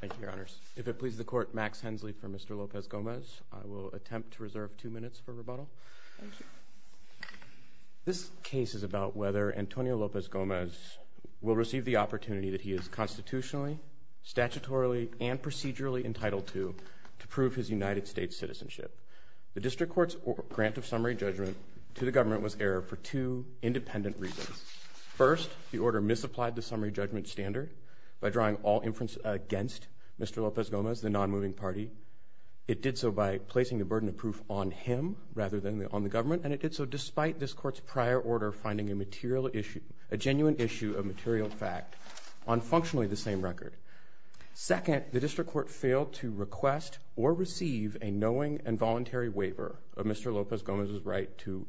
Thank you, Your Honors. If it pleases the Court, Max Hensley for Mr. Lopez-Gomez. I will attempt to reserve two minutes for rebuttal. This case is about whether Antonio Lopez-Gomez will receive the opportunity that he is constitutionally, statutorily, and procedurally entitled to to prove his United States citizenship. The District Court's grant of summary judgment to the government was error for two independent reasons. First, the order misapplied the summary judgment standard by drawing all inference against Mr. Lopez-Gomez, the non-moving party. It did so by placing the burden of proof on him rather than on the government, and it did so despite this Court's prior order finding a material issue, a genuine issue of material fact, on functionally the same record. Second, the District Court failed to request or receive a knowing and voluntary waiver of Mr. Lopez-Gomez's right to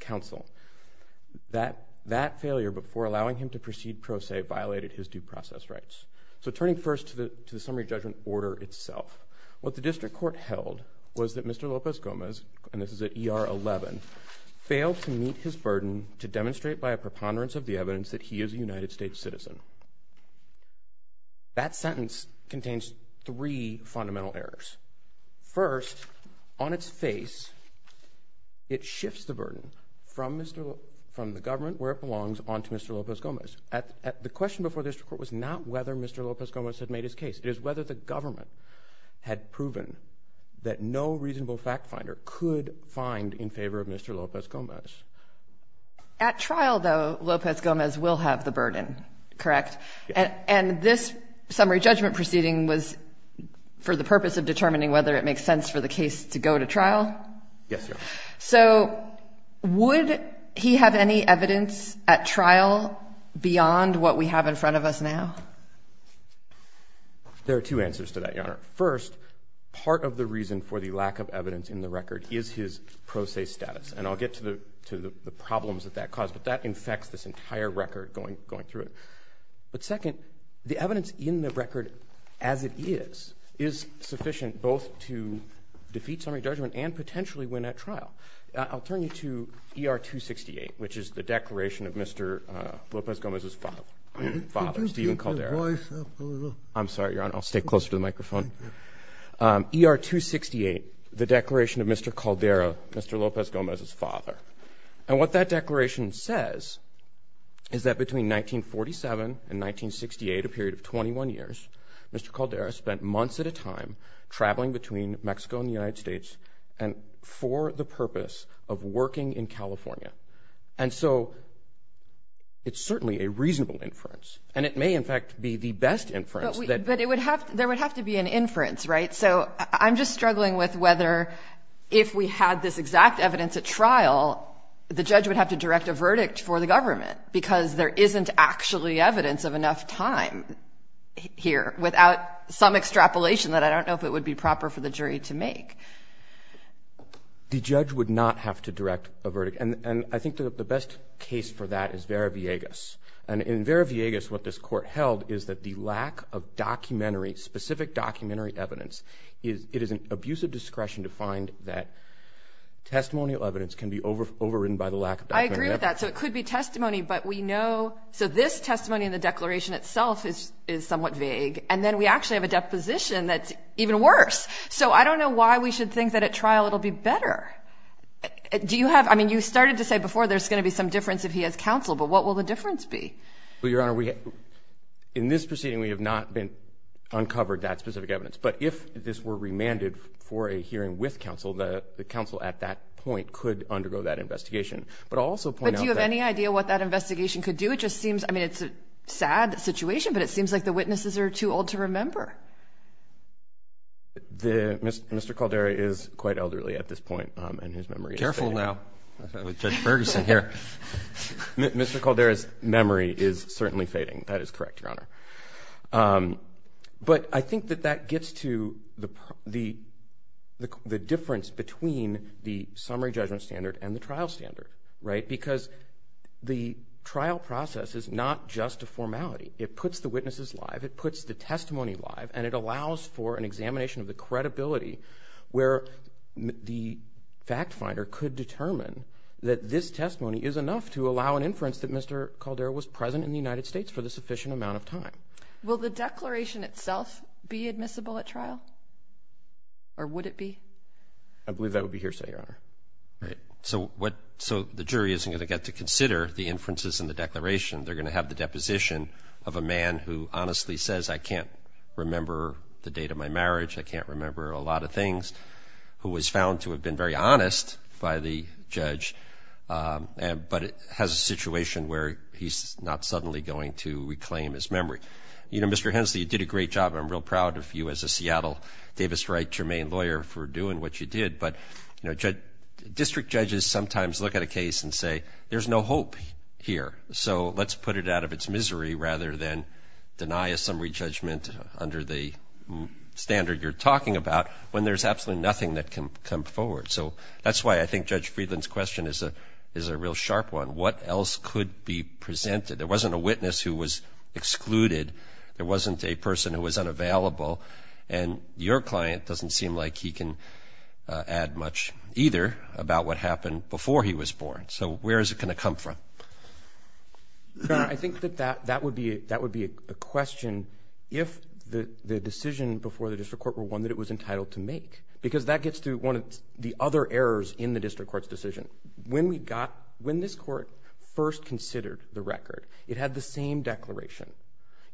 counsel. That failure, before allowing him to proceed pro se, violated his due process rights. So turning first to the summary judgment order itself, what the District Court held was that Mr. Lopez-Gomez, and this is at ER 11, failed to meet his burden to demonstrate by a preponderance of the evidence that he is a United States citizen. That sentence contains three fundamental errors. First, on its face, it shifts the burden from the government where it belongs on to Mr. Lopez-Gomez. The question before the District Court was not whether Mr. Lopez-Gomez had made his case. It is whether the government had proven that no reasonable fact finder could find in favor of Mr. Lopez-Gomez. At trial, though, Lopez-Gomez will have the burden, correct? And this summary judgment proceeding was for the purpose of determining whether it makes sense for the case to go to trial? Yes, Your Honor. So would he have any evidence at trial beyond what we have in front of us now? There are two answers to that, Your Honor. First, part of the reason for the lack of evidence in the record is his pro se status. And I'll get to the problems that that caused, but that infects this entire record going through it. But second, the evidence in the record as it is, is insufficient both to defeat summary judgment and potentially win at trial. I'll turn you to ER-268, which is the declaration of Mr. Lopez-Gomez's father, Stephen Caldera. Could you keep your voice up a little? I'm sorry, Your Honor. I'll stay closer to the microphone. ER-268, the declaration of Mr. Caldera, Mr. Lopez-Gomez's father. And what that declaration says is that between 1947 and 1968, a period of 21 years, Mr. Caldera spent months at a time traveling between Mexico and the United States for the purpose of working in California. And so it's certainly a reasonable inference, and it may in fact be the best inference. But there would have to be an inference, right? So I'm just struggling with whether if we had this exact evidence at trial, the judge would have to direct a verdict for the government, because there isn't actually evidence of enough time here without some extrapolation that I don't know if it would be proper for the jury to make. The judge would not have to direct a verdict. And I think the best case for that is Vera Villegas. And in Vera Villegas, what this court held is that the lack of documentary, specific documentary evidence, it is an abusive discretion to find that testimonial evidence can be overridden by the lack of documentary evidence. I agree with that. So it could be testimony, but we know, so this testimony in the declaration itself is somewhat vague. And then we actually have a deposition that's even worse. So I don't know why we should think that at trial it'll be better. Do you have, I mean, you started to say before there's going to be some difference if he has counsel, but what will the difference be? Well, Your Honor, we, in this proceeding, we have not been uncovered that specific evidence. But if this were remanded for a hearing with counsel, the counsel at that point could undergo that investigation. But I'll also point out that... the witnesses are too old to remember. Mr. Caldera is quite elderly at this point, and his memory is fading. Careful now, with Judge Ferguson here. Mr. Caldera's memory is certainly fading. That is correct, Your Honor. But I think that that gets to the difference between the summary judgment standard and the trial standard, because the trial process is not just a formality. It puts the witnesses live, it puts the testimony live, and it allows for an examination of the credibility where the fact finder could determine that this testimony is enough to allow an inference that Mr. Caldera was present in the United States for the sufficient amount of time. Will the declaration itself be admissible at trial? Or would it be? I believe that would be hearsay, Your Honor. Right. So, the jury isn't going to get to consider the inferences in the declaration. They're going to have the deposition of a man who honestly says, I can't remember the date of my marriage, I can't remember a lot of things, who was found to have been very honest by the judge, but has a situation where he's not suddenly going to reclaim his memory. You know, Mr. Hensley, you did a great job. I'm real proud of you as a Seattle-Davis Wright-Germain lawyer for doing what you did. But, you know, district judges sometimes look at a case and say, there's no hope here, so let's put it out of its misery rather than deny a summary judgment under the standard you're talking about when there's absolutely nothing that can come forward. So that's why I think Judge Friedland's question is a real sharp one. What else could be presented? There wasn't a witness who was excluded. There wasn't a person who was unavailable. And your much either about what happened before he was born. So where is it going to come from? I think that that would be a question if the decision before the district court were one that it was entitled to make, because that gets to one of the other errors in the district court's decision. When this court first considered the record, it had the same declaration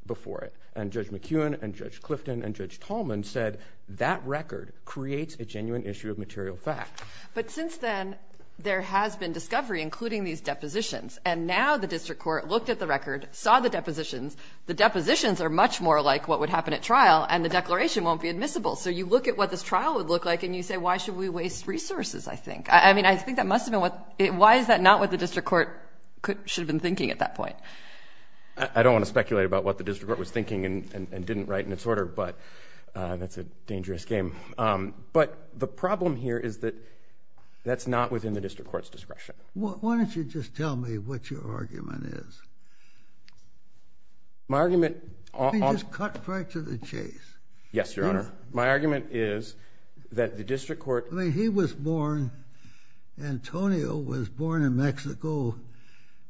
before it. And Judge McEwen and Judge Clifton and Judge Tallman said that record creates a genuine issue of material fact. But since then, there has been discovery, including these depositions. And now the district court looked at the record, saw the depositions. The depositions are much more like what would happen at trial, and the declaration won't be admissible. So you look at what this trial would look like, and you say, why should we waste resources, I think? I mean, I think that must have been what it why is that not what the district court should have been thinking at that point? I don't want to speculate about what the district court was thinking and didn't write in its But the problem here is that that's not within the district court's discretion. Why don't you just tell me what your argument is? My argument I mean, just cut right to the chase. Yes, Your Honor. My argument is that the district court I mean, he was born, Antonio was born in Mexico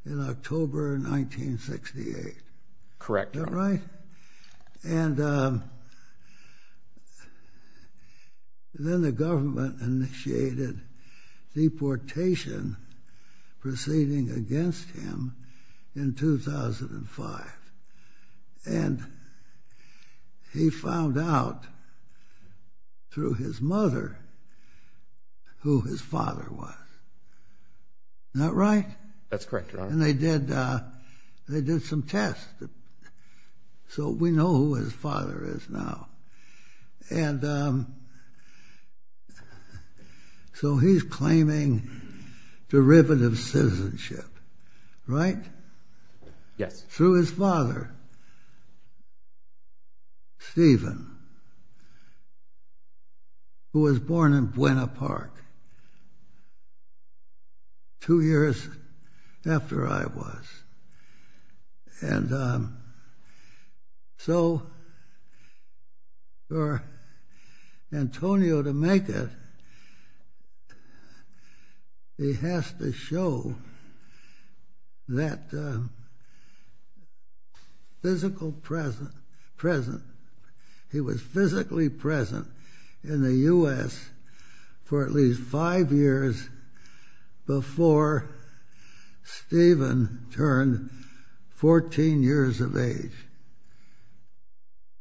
in October 1968. Correct. Is that right? And then the government initiated deportation proceeding against him in 2005. And he found out, through his mother, who his father was. Is that right? That's correct, Your Honor. And they did some tests. So we know who his father is now. And so he's claiming derivative citizenship, right? Yes. Through his father, Stephen, who was born in Buena Park, two years after I was. And And so for Antonio to make it, he has to show that physical presence, he was physically present in the U.S. for at least five years before Stephen turned 14 years of age.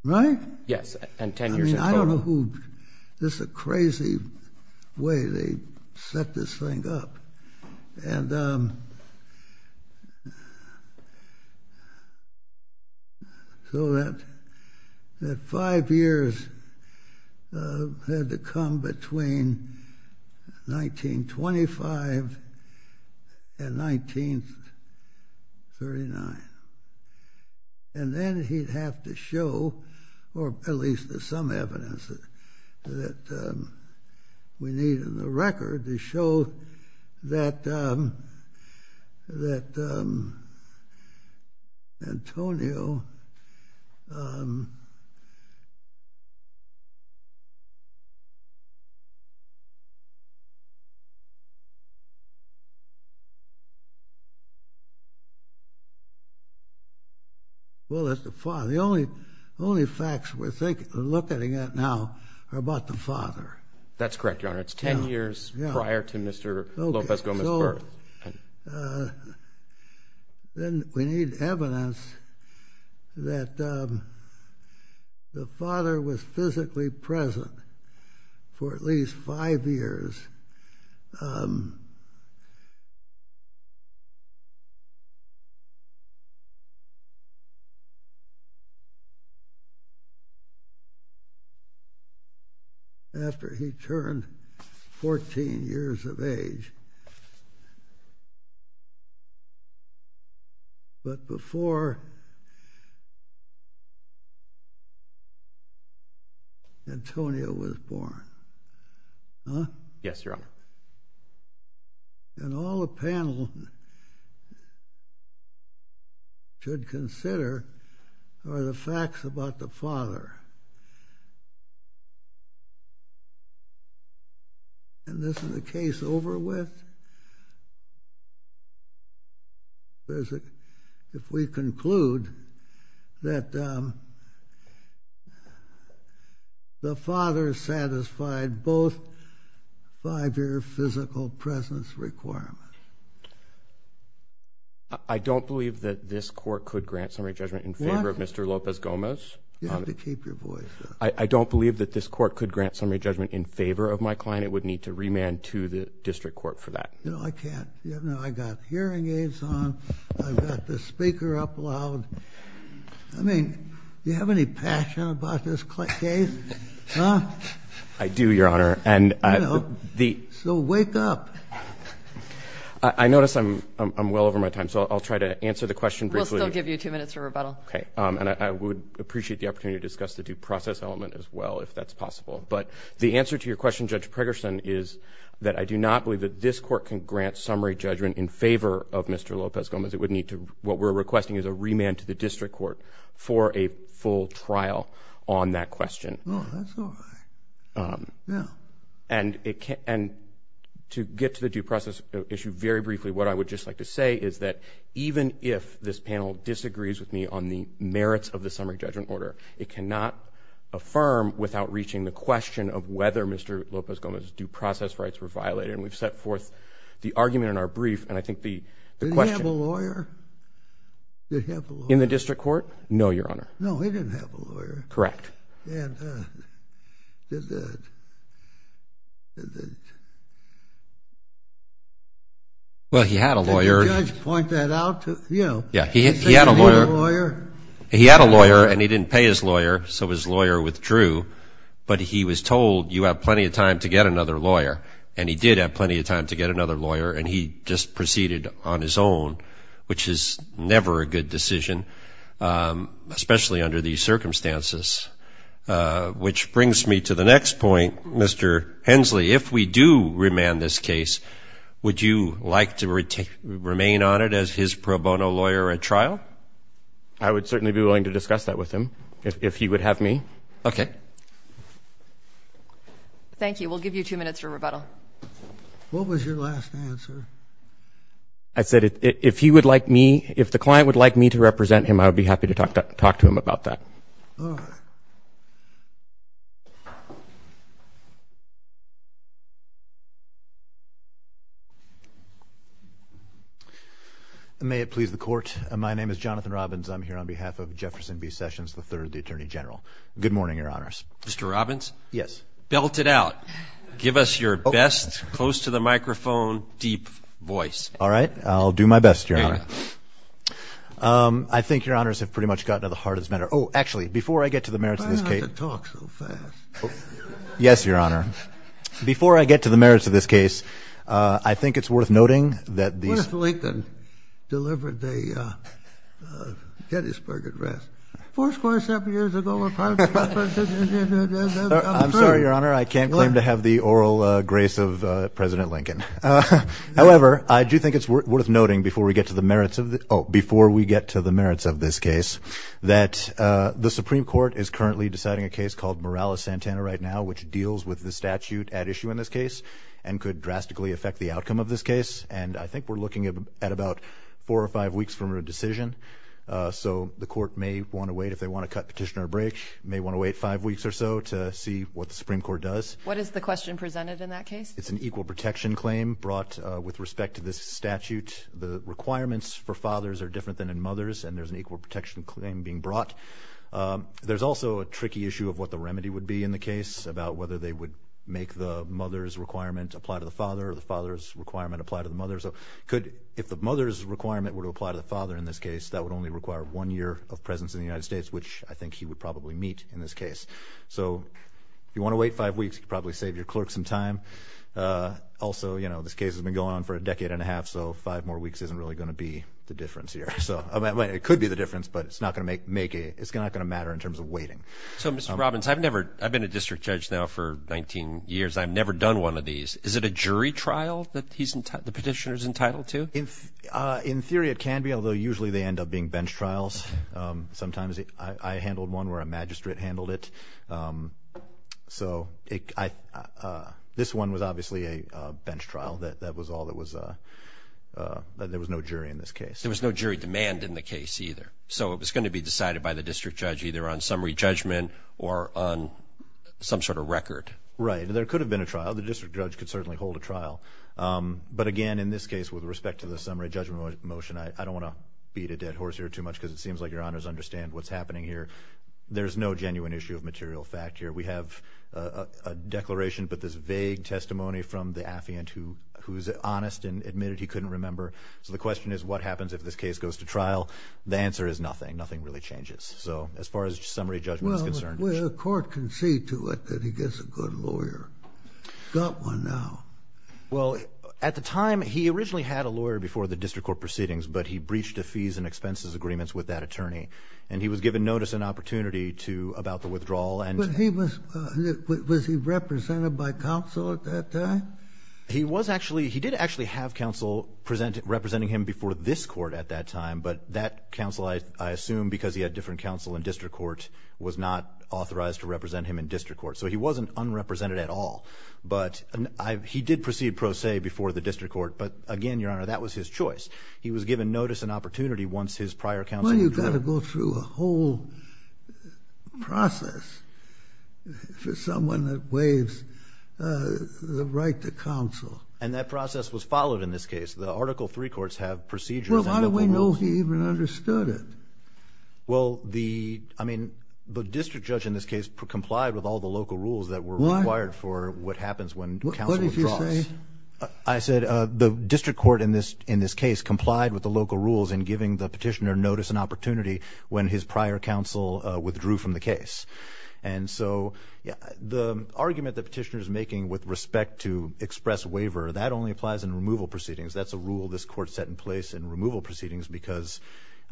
Right? Yes. And 10 years in total. I don't know who, this is a crazy way they set this thing up. And so that five years had to come between 1925 and 1939. And then he'd have to show, or at least there's some Well, that's the father. The only facts we're looking at now are about the father. That's correct, Your Honor. It's 10 years prior to Mr. López Gómez's birth. So then we need evidence that the father was physically present for at least five years after he turned 14 years of age. But before Antonio was born. Huh? Yes, Your Honor. Then all the panel should consider are the facts about the father. And isn't the case over with? If we conclude that the father satisfied both five-year physical presence requirements. I don't believe that this court could grant summary judgment in favor of Mr. López Gómez. You have to keep your voice down. I don't believe that this court could grant summary judgment in favor of my client. And it would need to remand to the district court for that. You know, I can't. I got hearing aids on. I've got the speaker up loud. I mean, you have any passion about this case? Huh? I do, Your Honor. So wake up. I notice I'm well over my time. So I'll try to answer the question briefly. We'll still give you two minutes for rebuttal. And I would appreciate the opportunity to discuss the due process element as well, if that's possible. But the answer to your question, Judge Pregerson, is that I do not believe that this court can grant summary judgment in favor of Mr. López Gómez. What we're requesting is a remand to the district court for a full trial on that question. Oh, that's all right. Yeah. And to get to the due process issue very briefly, what I would just like to say is that even if this panel disagrees with me on the merits of the summary judgment order, it cannot affirm without reaching the question of whether Mr. López Gómez's due process rights were violated. And we've set forth the argument in our brief, and I think the question— Did he have a lawyer? Did he have a lawyer? In the district court? No, Your Honor. No, he didn't have a lawyer. Correct. And did the— Well, he had a lawyer. Did the judge point that out to you? Yeah, he had a lawyer. Did he say he didn't need a lawyer? He had a lawyer, and he didn't pay his lawyer, so his lawyer withdrew. But he was told, you have plenty of time to get another lawyer. And he did have plenty of time to get another lawyer, and he just proceeded on his own, which is never a good decision, especially under these circumstances. Which brings me to the next point. Mr. Hensley, if we do remand this case, would you like to remain on it as his pro bono lawyer at trial? I would certainly be willing to discuss that with him if he would have me. Okay. Thank you. We'll give you two minutes for rebuttal. What was your last answer? I said if he would like me—if the client would like me to represent him, I would be happy to talk to him about that. All right. May it please the Court. My name is Jonathan Robbins. I'm here on behalf of Jefferson B. Sessions III, the Attorney General. Good morning, Your Honors. Mr. Robbins? Yes. Belt it out. Give us your best close-to-the-microphone deep voice. All right. I'll do my best, Your Honor. I think Your Honors have pretty much gotten to the heart of this matter. Oh, actually, before I get to the merits of this case— Why do I have to talk so fast? Yes, Your Honor. Before I get to the merits of this case, I think it's worth noting that these— Hattiesburg, address. Four square-seven years ago, a prime minister— I'm sorry, Your Honor. I can't claim to have the oral grace of President Lincoln. However, I do think it's worth noting before we get to the merits of this case that the Supreme Court is currently deciding a case called Morales-Santana right now, which deals with the statute at issue in this case and could drastically affect the outcome of this case. And I think we're looking at about four or five weeks from a decision. So the court may want to wait, if they want to cut petition or break, may want to wait five weeks or so to see what the Supreme Court does. What is the question presented in that case? It's an equal protection claim brought with respect to this statute. The requirements for fathers are different than in mothers, and there's an equal protection claim being brought. There's also a tricky issue of what the remedy would be in the case about whether they would make the mother's requirement apply to the father or the father's requirement apply to the mother. So if the mother's requirement were to apply to the father in this case, that would only require one year of presence in the United States, which I think he would probably meet in this case. So if you want to wait five weeks, you could probably save your clerk some time. Also, this case has been going on for a decade and a half, so five more weeks isn't really going to be the difference here. It could be the difference, but it's not going to matter in terms of waiting. So, Mr. Robbins, I've been a district judge now for 19 years. I've never done one of these. Is it a jury trial that the petitioner is entitled to? In theory it can be, although usually they end up being bench trials. Sometimes I handled one where a magistrate handled it. So this one was obviously a bench trial. That was all that was a – there was no jury in this case. There was no jury demand in the case either, so it was going to be decided by the district judge either on summary judgment or on some sort of record. Right, and there could have been a trial. The district judge could certainly hold a trial. But again, in this case, with respect to the summary judgment motion, I don't want to beat a dead horse here too much because it seems like Your Honors understand what's happening here. There's no genuine issue of material fact here. We have a declaration, but there's vague testimony from the affiant who's honest and admitted he couldn't remember. So the question is what happens if this case goes to trial? The answer is nothing. Nothing really changes. So as far as summary judgment is concerned. The court can see to it that he gets a good lawyer. He's got one now. Well, at the time, he originally had a lawyer before the district court proceedings, but he breached the fees and expenses agreements with that attorney, and he was given notice and opportunity about the withdrawal. Was he represented by counsel at that time? He did actually have counsel representing him before this court at that time, but that counsel, I assume because he had different counsel in district court, was not authorized to represent him in district court. So he wasn't unrepresented at all. But he did proceed pro se before the district court, but again, Your Honor, that was his choice. He was given notice and opportunity once his prior counsel withdrew. Well, you've got to go through a whole process for someone that waives the right to counsel. And that process was followed in this case. The Article III courts have procedures. Well, how do we know he even understood it? Well, the district judge in this case complied with all the local rules that were required for what happens when counsel withdraws. What did you say? I said the district court in this case complied with the local rules in giving the petitioner notice and opportunity when his prior counsel withdrew from the case. And so the argument the petitioner is making with respect to express waiver, that only applies in removal proceedings. That's a rule this court set in place in removal proceedings because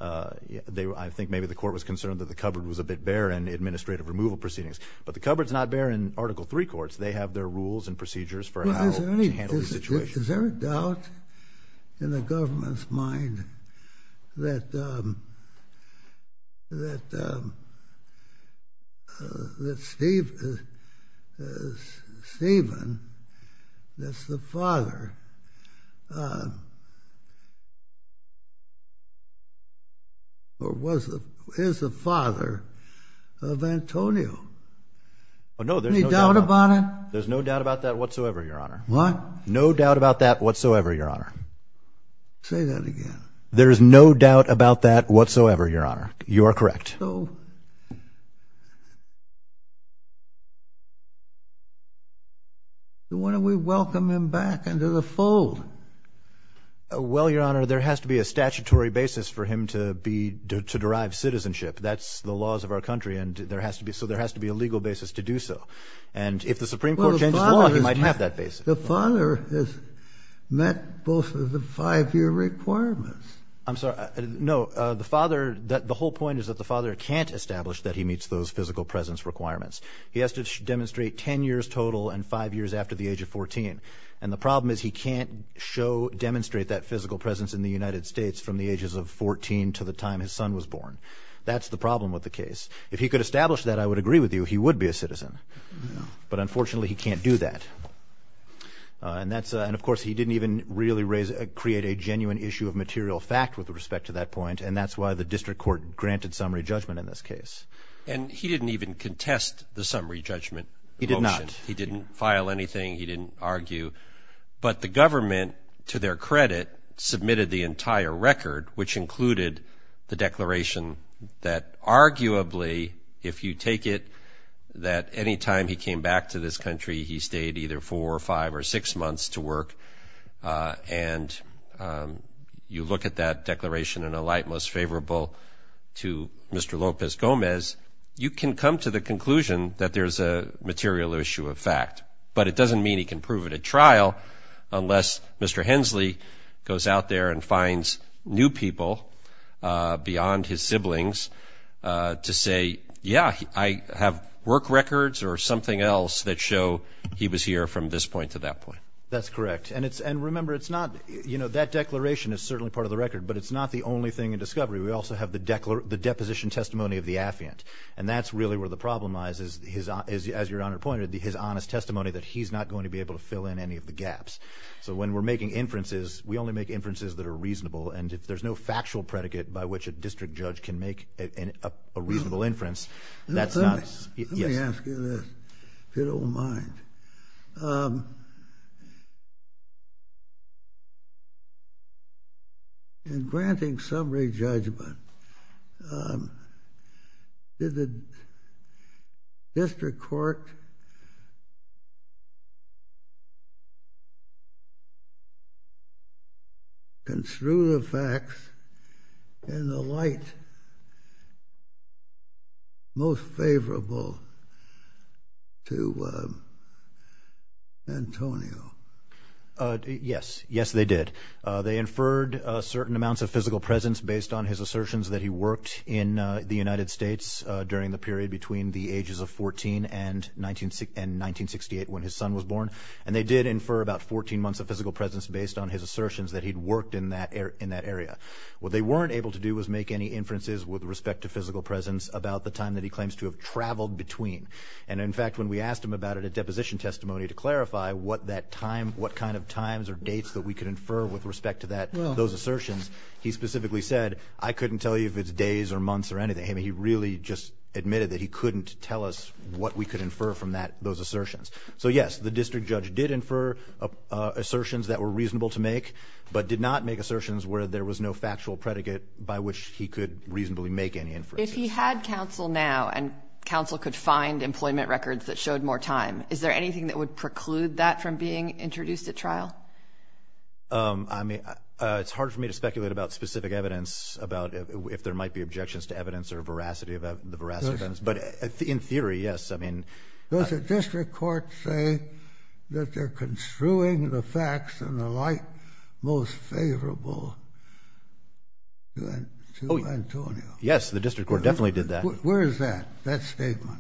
I think maybe the court was concerned that the cupboard was a bit bare in administrative removal proceedings. But the cupboard's not bare in Article III courts. They have their rules and procedures for how to handle the situation. Is there a doubt in the government's mind that Stephen is the father of Antonio? No, there's no doubt about it. There's no doubt about that whatsoever, Your Honor. What? No doubt about that whatsoever, Your Honor. Say that again. There is no doubt about that whatsoever, Your Honor. You are correct. So why don't we welcome him back into the fold? Well, Your Honor, there has to be a statutory basis for him to derive citizenship. That's the laws of our country, so there has to be a legal basis to do so. And if the Supreme Court changes the law, he might have that basis. Well, the father has met both of the five-year requirements. I'm sorry. No, the whole point is that the father can't establish that he meets those physical presence requirements. He has to demonstrate 10 years total and five years after the age of 14. And the problem is he can't demonstrate that physical presence in the United States from the ages of 14 to the time his son was born. That's the problem with the case. If he could establish that, I would agree with you, he would be a citizen. But, unfortunately, he can't do that. And, of course, he didn't even really create a genuine issue of material fact with respect to that point, and that's why the district court granted summary judgment in this case. And he didn't even contest the summary judgment motion. He did not. He didn't file anything. He didn't argue. But the government, to their credit, submitted the entire record, which included the declaration that, arguably, if you take it that any time he came back to this country, he stayed either four or five or six months to work, and you look at that declaration in a light most favorable to Mr. Lopez-Gomez, you can come to the conclusion that there's a material issue of fact. But it doesn't mean he can prove it at trial unless Mr. Hensley goes out there and finds new people beyond his siblings to say, yeah, I have work records or something else that show he was here from this point to that point. That's correct. And remember, that declaration is certainly part of the record, but it's not the only thing in discovery. We also have the deposition testimony of the affiant, and that's really where the problem lies, as Your Honor pointed, his honest testimony that he's not going to be able to fill in any of the gaps. So when we're making inferences, we only make inferences that are reasonable, and if there's no factual predicate by which a district judge can make a reasonable inference, that's not. Let me ask you this, if you don't mind. In granting summary judgment, did the district court construe the facts in the light most favorable to Antonio? Yes. Yes, they did. They inferred certain amounts of physical presence based on his assertions that he worked in the United States during the period between the ages of 14 and 1968 when his son was born, and they did infer about 14 months of physical presence based on his assertions that he'd worked in that area. What they weren't able to do was make any inferences with respect to physical presence about the time that he claims to have traveled between. And in fact, when we asked him about it at deposition testimony to clarify what kind of times or dates that we could infer with respect to those assertions, he specifically said, I couldn't tell you if it's days or months or anything. He really just admitted that he couldn't tell us what we could infer from those assertions. So, yes, the district judge did infer assertions that were reasonable to make, but did not make assertions where there was no factual predicate by which he could reasonably make any inferences. If he had counsel now and counsel could find employment records that showed more time, is there anything that would preclude that from being introduced at trial? I mean, it's hard for me to speculate about specific evidence, about if there might be objections to evidence or veracity about the veracity of evidence. But in theory, yes. Does the district court say that they're construing the facts in the light most favorable to Antonio? Yes, the district court definitely did that. Where is that, that statement?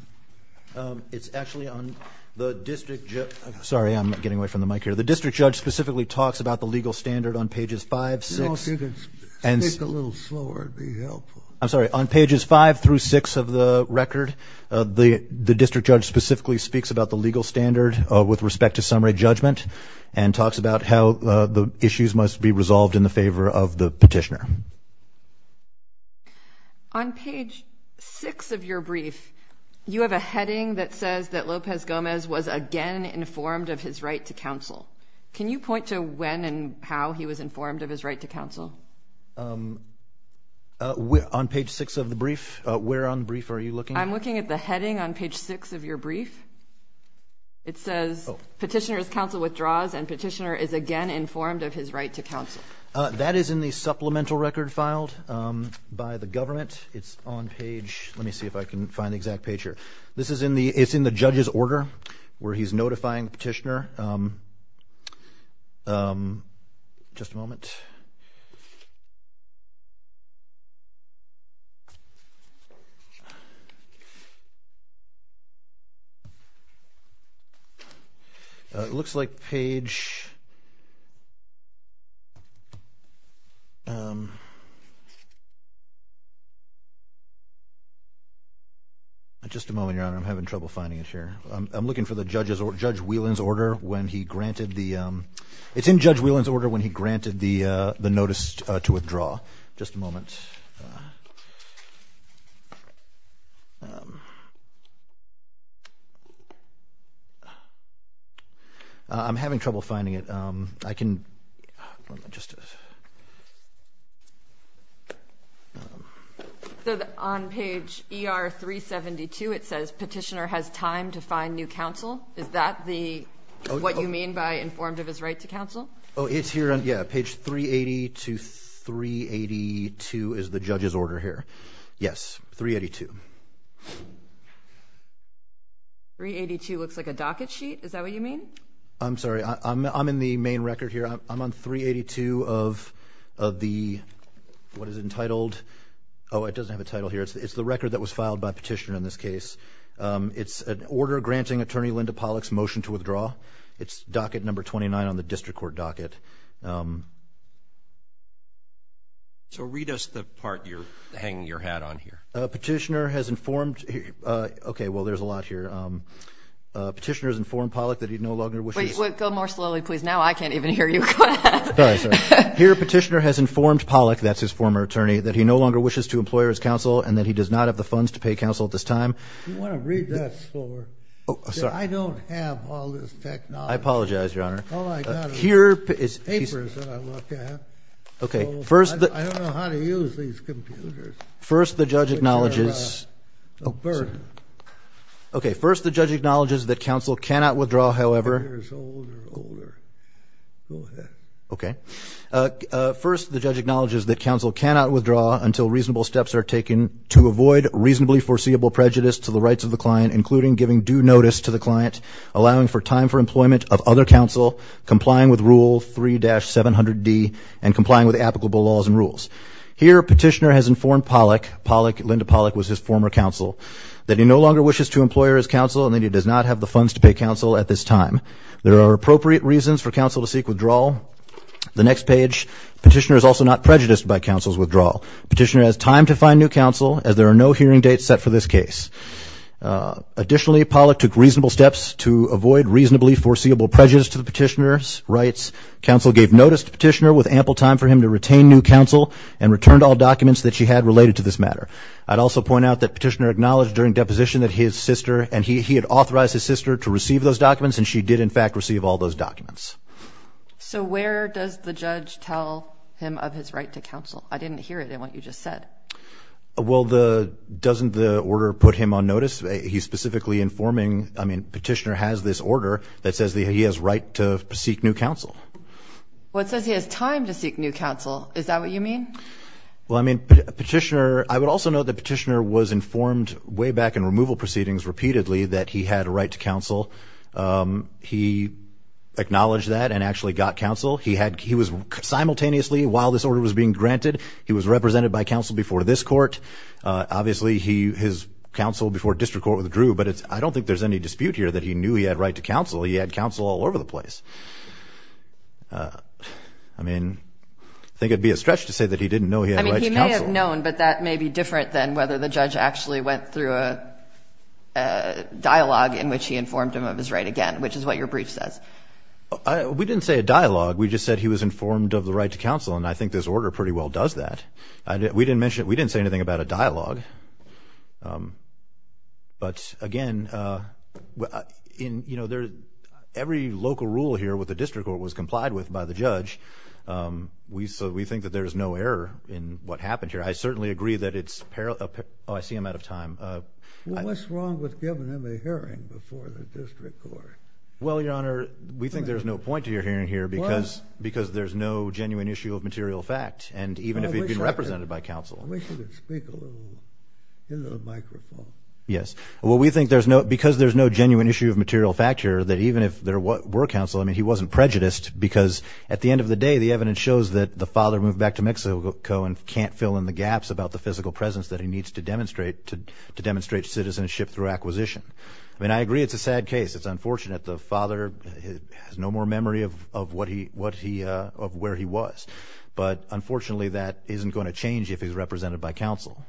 It's actually on the district judge. Sorry, I'm getting away from the mic here. The district judge specifically talks about the legal standard on pages five, six. Speak a little slower, it'd be helpful. I'm sorry, on pages five through six of the record, the district judge specifically speaks about the legal standard with respect to summary judgment and talks about how the issues must be resolved in the favor of the petitioner. On page six of your brief, you have a heading that says that Lopez Gomez was again informed of his right to counsel. Can you point to when and how he was informed of his right to counsel? On page six of the brief? Where on the brief are you looking? I'm looking at the heading on page six of your brief. It says, petitioner's counsel withdraws and petitioner is again informed of his right to counsel. That is in the supplemental record filed by the government. It's on page, let me see if I can find the exact page here. This is in the, it's in the judge's order where he's notifying the petitioner. Just a moment. It looks like page, just a moment, Your Honor, I'm having trouble finding it here. I'm looking for the judge's, Judge Whelan's order when he granted the, it's in Judge Whelan's order when he granted the notice to withdraw. Just a moment. I'm having trouble finding it. I can, just a. So, on page ER 372, it says petitioner has time to find new counsel. Is that the, what you mean by informed of his right to counsel? Oh, it's here on, yeah, page 380 to 382 is the judge's order here. Yes, 382. 382 looks like a docket sheet. Is that what you mean? I'm sorry. I'm in the main record here. I'm on 382 of the, what is it entitled? Oh, it doesn't have a title here. It's the record that was filed by petitioner in this case. It's an order granting Attorney Linda Pollack's motion to withdraw. It's docket number 29 on the district court docket. So, read us the part you're hanging your hat on here. Petitioner has informed, okay, well, there's a lot here. Petitioner has informed Pollack that he no longer wishes. Go more slowly, please. Now I can't even hear you. Here petitioner has informed Pollack, that's his former attorney, that he no longer wishes to employ his counsel and that he does not have the funds to pay counsel at this time. You want to read that for me? Oh, sorry. I don't have all this technology. I apologize, Your Honor. All I got is papers that I look at. Okay, first. I don't know how to use these computers. First the judge acknowledges. Okay, first the judge acknowledges that counsel cannot withdraw, however. Go ahead. Okay. First the judge acknowledges that counsel cannot withdraw until reasonable steps are taken to avoid reasonably foreseeable prejudice to the rights of the client, including giving due notice to the client, allowing for time for employment of other counsel, complying with Rule 3-700D, and complying with applicable laws and rules. Here petitioner has informed Pollack, Linda Pollack was his former counsel, that he no longer wishes to employ his counsel and that he does not have the funds to pay counsel at this time. There are appropriate reasons for counsel to seek withdrawal. The next page, petitioner is also not prejudiced by counsel's withdrawal. Petitioner has time to find new counsel, as there are no hearing dates set for this case. Additionally, Pollack took reasonable steps to avoid reasonably foreseeable prejudice to the petitioner's rights. Counsel gave notice to petitioner with ample time for him to retain new counsel and returned all documents that she had related to this matter. I'd also point out that petitioner acknowledged during deposition that his sister and he had authorized his sister to receive those documents and she did in fact receive all those documents. So where does the judge tell him of his right to counsel? I didn't hear it in what you just said. Well, doesn't the order put him on notice? He's specifically informing, I mean, petitioner has this order that says that he has right to seek new counsel. Well, it says he has time to seek new counsel. Is that what you mean? Well, I mean, petitioner, I would also note that petitioner was informed way back in removal proceedings repeatedly that he had a right to counsel. He acknowledged that and actually got counsel. He was simultaneously, while this order was being granted, he was represented by counsel before this court. Obviously his counsel before district court withdrew, but I don't think there's any dispute here that he knew he had right to counsel. He had counsel all over the place. I mean, I think it would be a stretch to say that he didn't know he had right to counsel. I don't think he would have known, but that may be different than whether the judge actually went through a dialogue in which he informed him of his right again, which is what your brief says. We didn't say a dialogue. We just said he was informed of the right to counsel, and I think this order pretty well does that. We didn't mention it. We didn't say anything about a dialogue. But, again, every local rule here with the district court was complied with by the judge. We think that there is no error in what happened here. I certainly agree that it's – oh, I see I'm out of time. Well, what's wrong with giving him a hearing before the district court? Well, Your Honor, we think there's no point to your hearing here because there's no genuine issue of material fact, and even if he'd been represented by counsel. We should speak a little into the microphone. Yes. Well, we think because there's no genuine issue of material fact here, that even if there were counsel, I mean, he wasn't prejudiced because at the end of the day the evidence shows that the father moved back to Mexico and can't fill in the gaps about the physical presence that he needs to demonstrate citizenship through acquisition. I mean, I agree it's a sad case. It's unfortunate the father has no more memory of where he was. But, unfortunately, that isn't going to change if he's represented by counsel.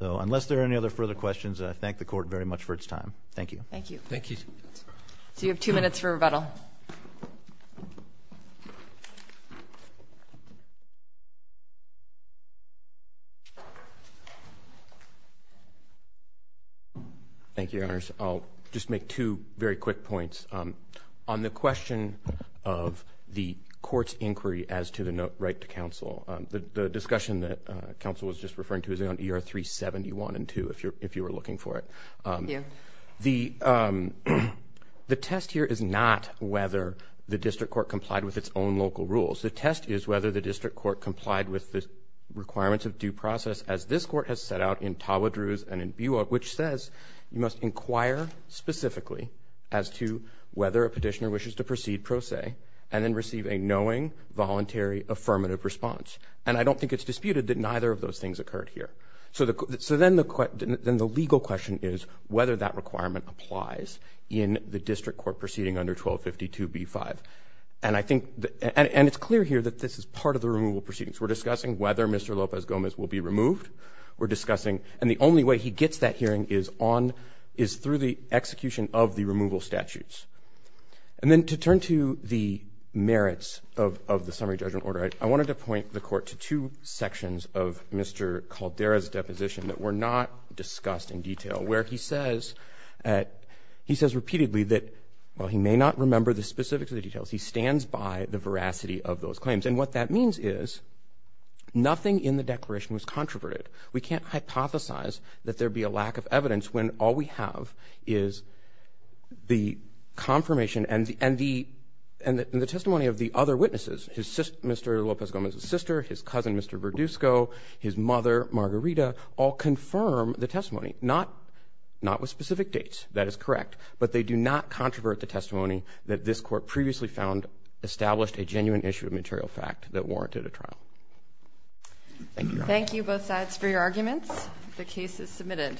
So unless there are any other further questions, I thank the court very much for its time. Thank you. Thank you. Thank you. So you have two minutes for rebuttal. Thank you, Your Honors. I'll just make two very quick points. On the question of the court's inquiry as to the right to counsel, the discussion that counsel was just referring to is on ER 371 and 2, if you were looking for it. Thank you. The test here is not whether the district court complied with its own local rules. The test is whether the district court complied with the requirements of due process, as this court has set out in Tawadrou's and in Buick, which says you must inquire specifically as to whether a petitioner wishes to proceed pro se and then receive a knowing, voluntary, affirmative response. And I don't think it's disputed that neither of those things occurred here. So then the legal question is whether that requirement applies in the district court proceeding under 1252b-5. And it's clear here that this is part of the removal proceedings. We're discussing whether Mr. López-Gómez will be removed. And the only way he gets that hearing is through the execution of the removal statutes. And then to turn to the merits of the summary judgment order, I wanted to point the court to two sections of Mr. Caldera's deposition that were not discussed in detail, where he says repeatedly that while he may not remember the specifics of the details, he stands by the veracity of those claims. And what that means is nothing in the declaration was controverted. We can't hypothesize that there would be a lack of evidence when all we have is the confirmation and the testimony of the other witnesses, Mr. López-Gómez's sister, his cousin, Mr. Verdusco, his mother, Margarita, all confirm the testimony, not with specific dates. That is correct. But they do not controvert the testimony that this court previously found established a genuine issue of material fact that warranted a trial. Thank you. Thank you, both sides, for your arguments. The case is submitted.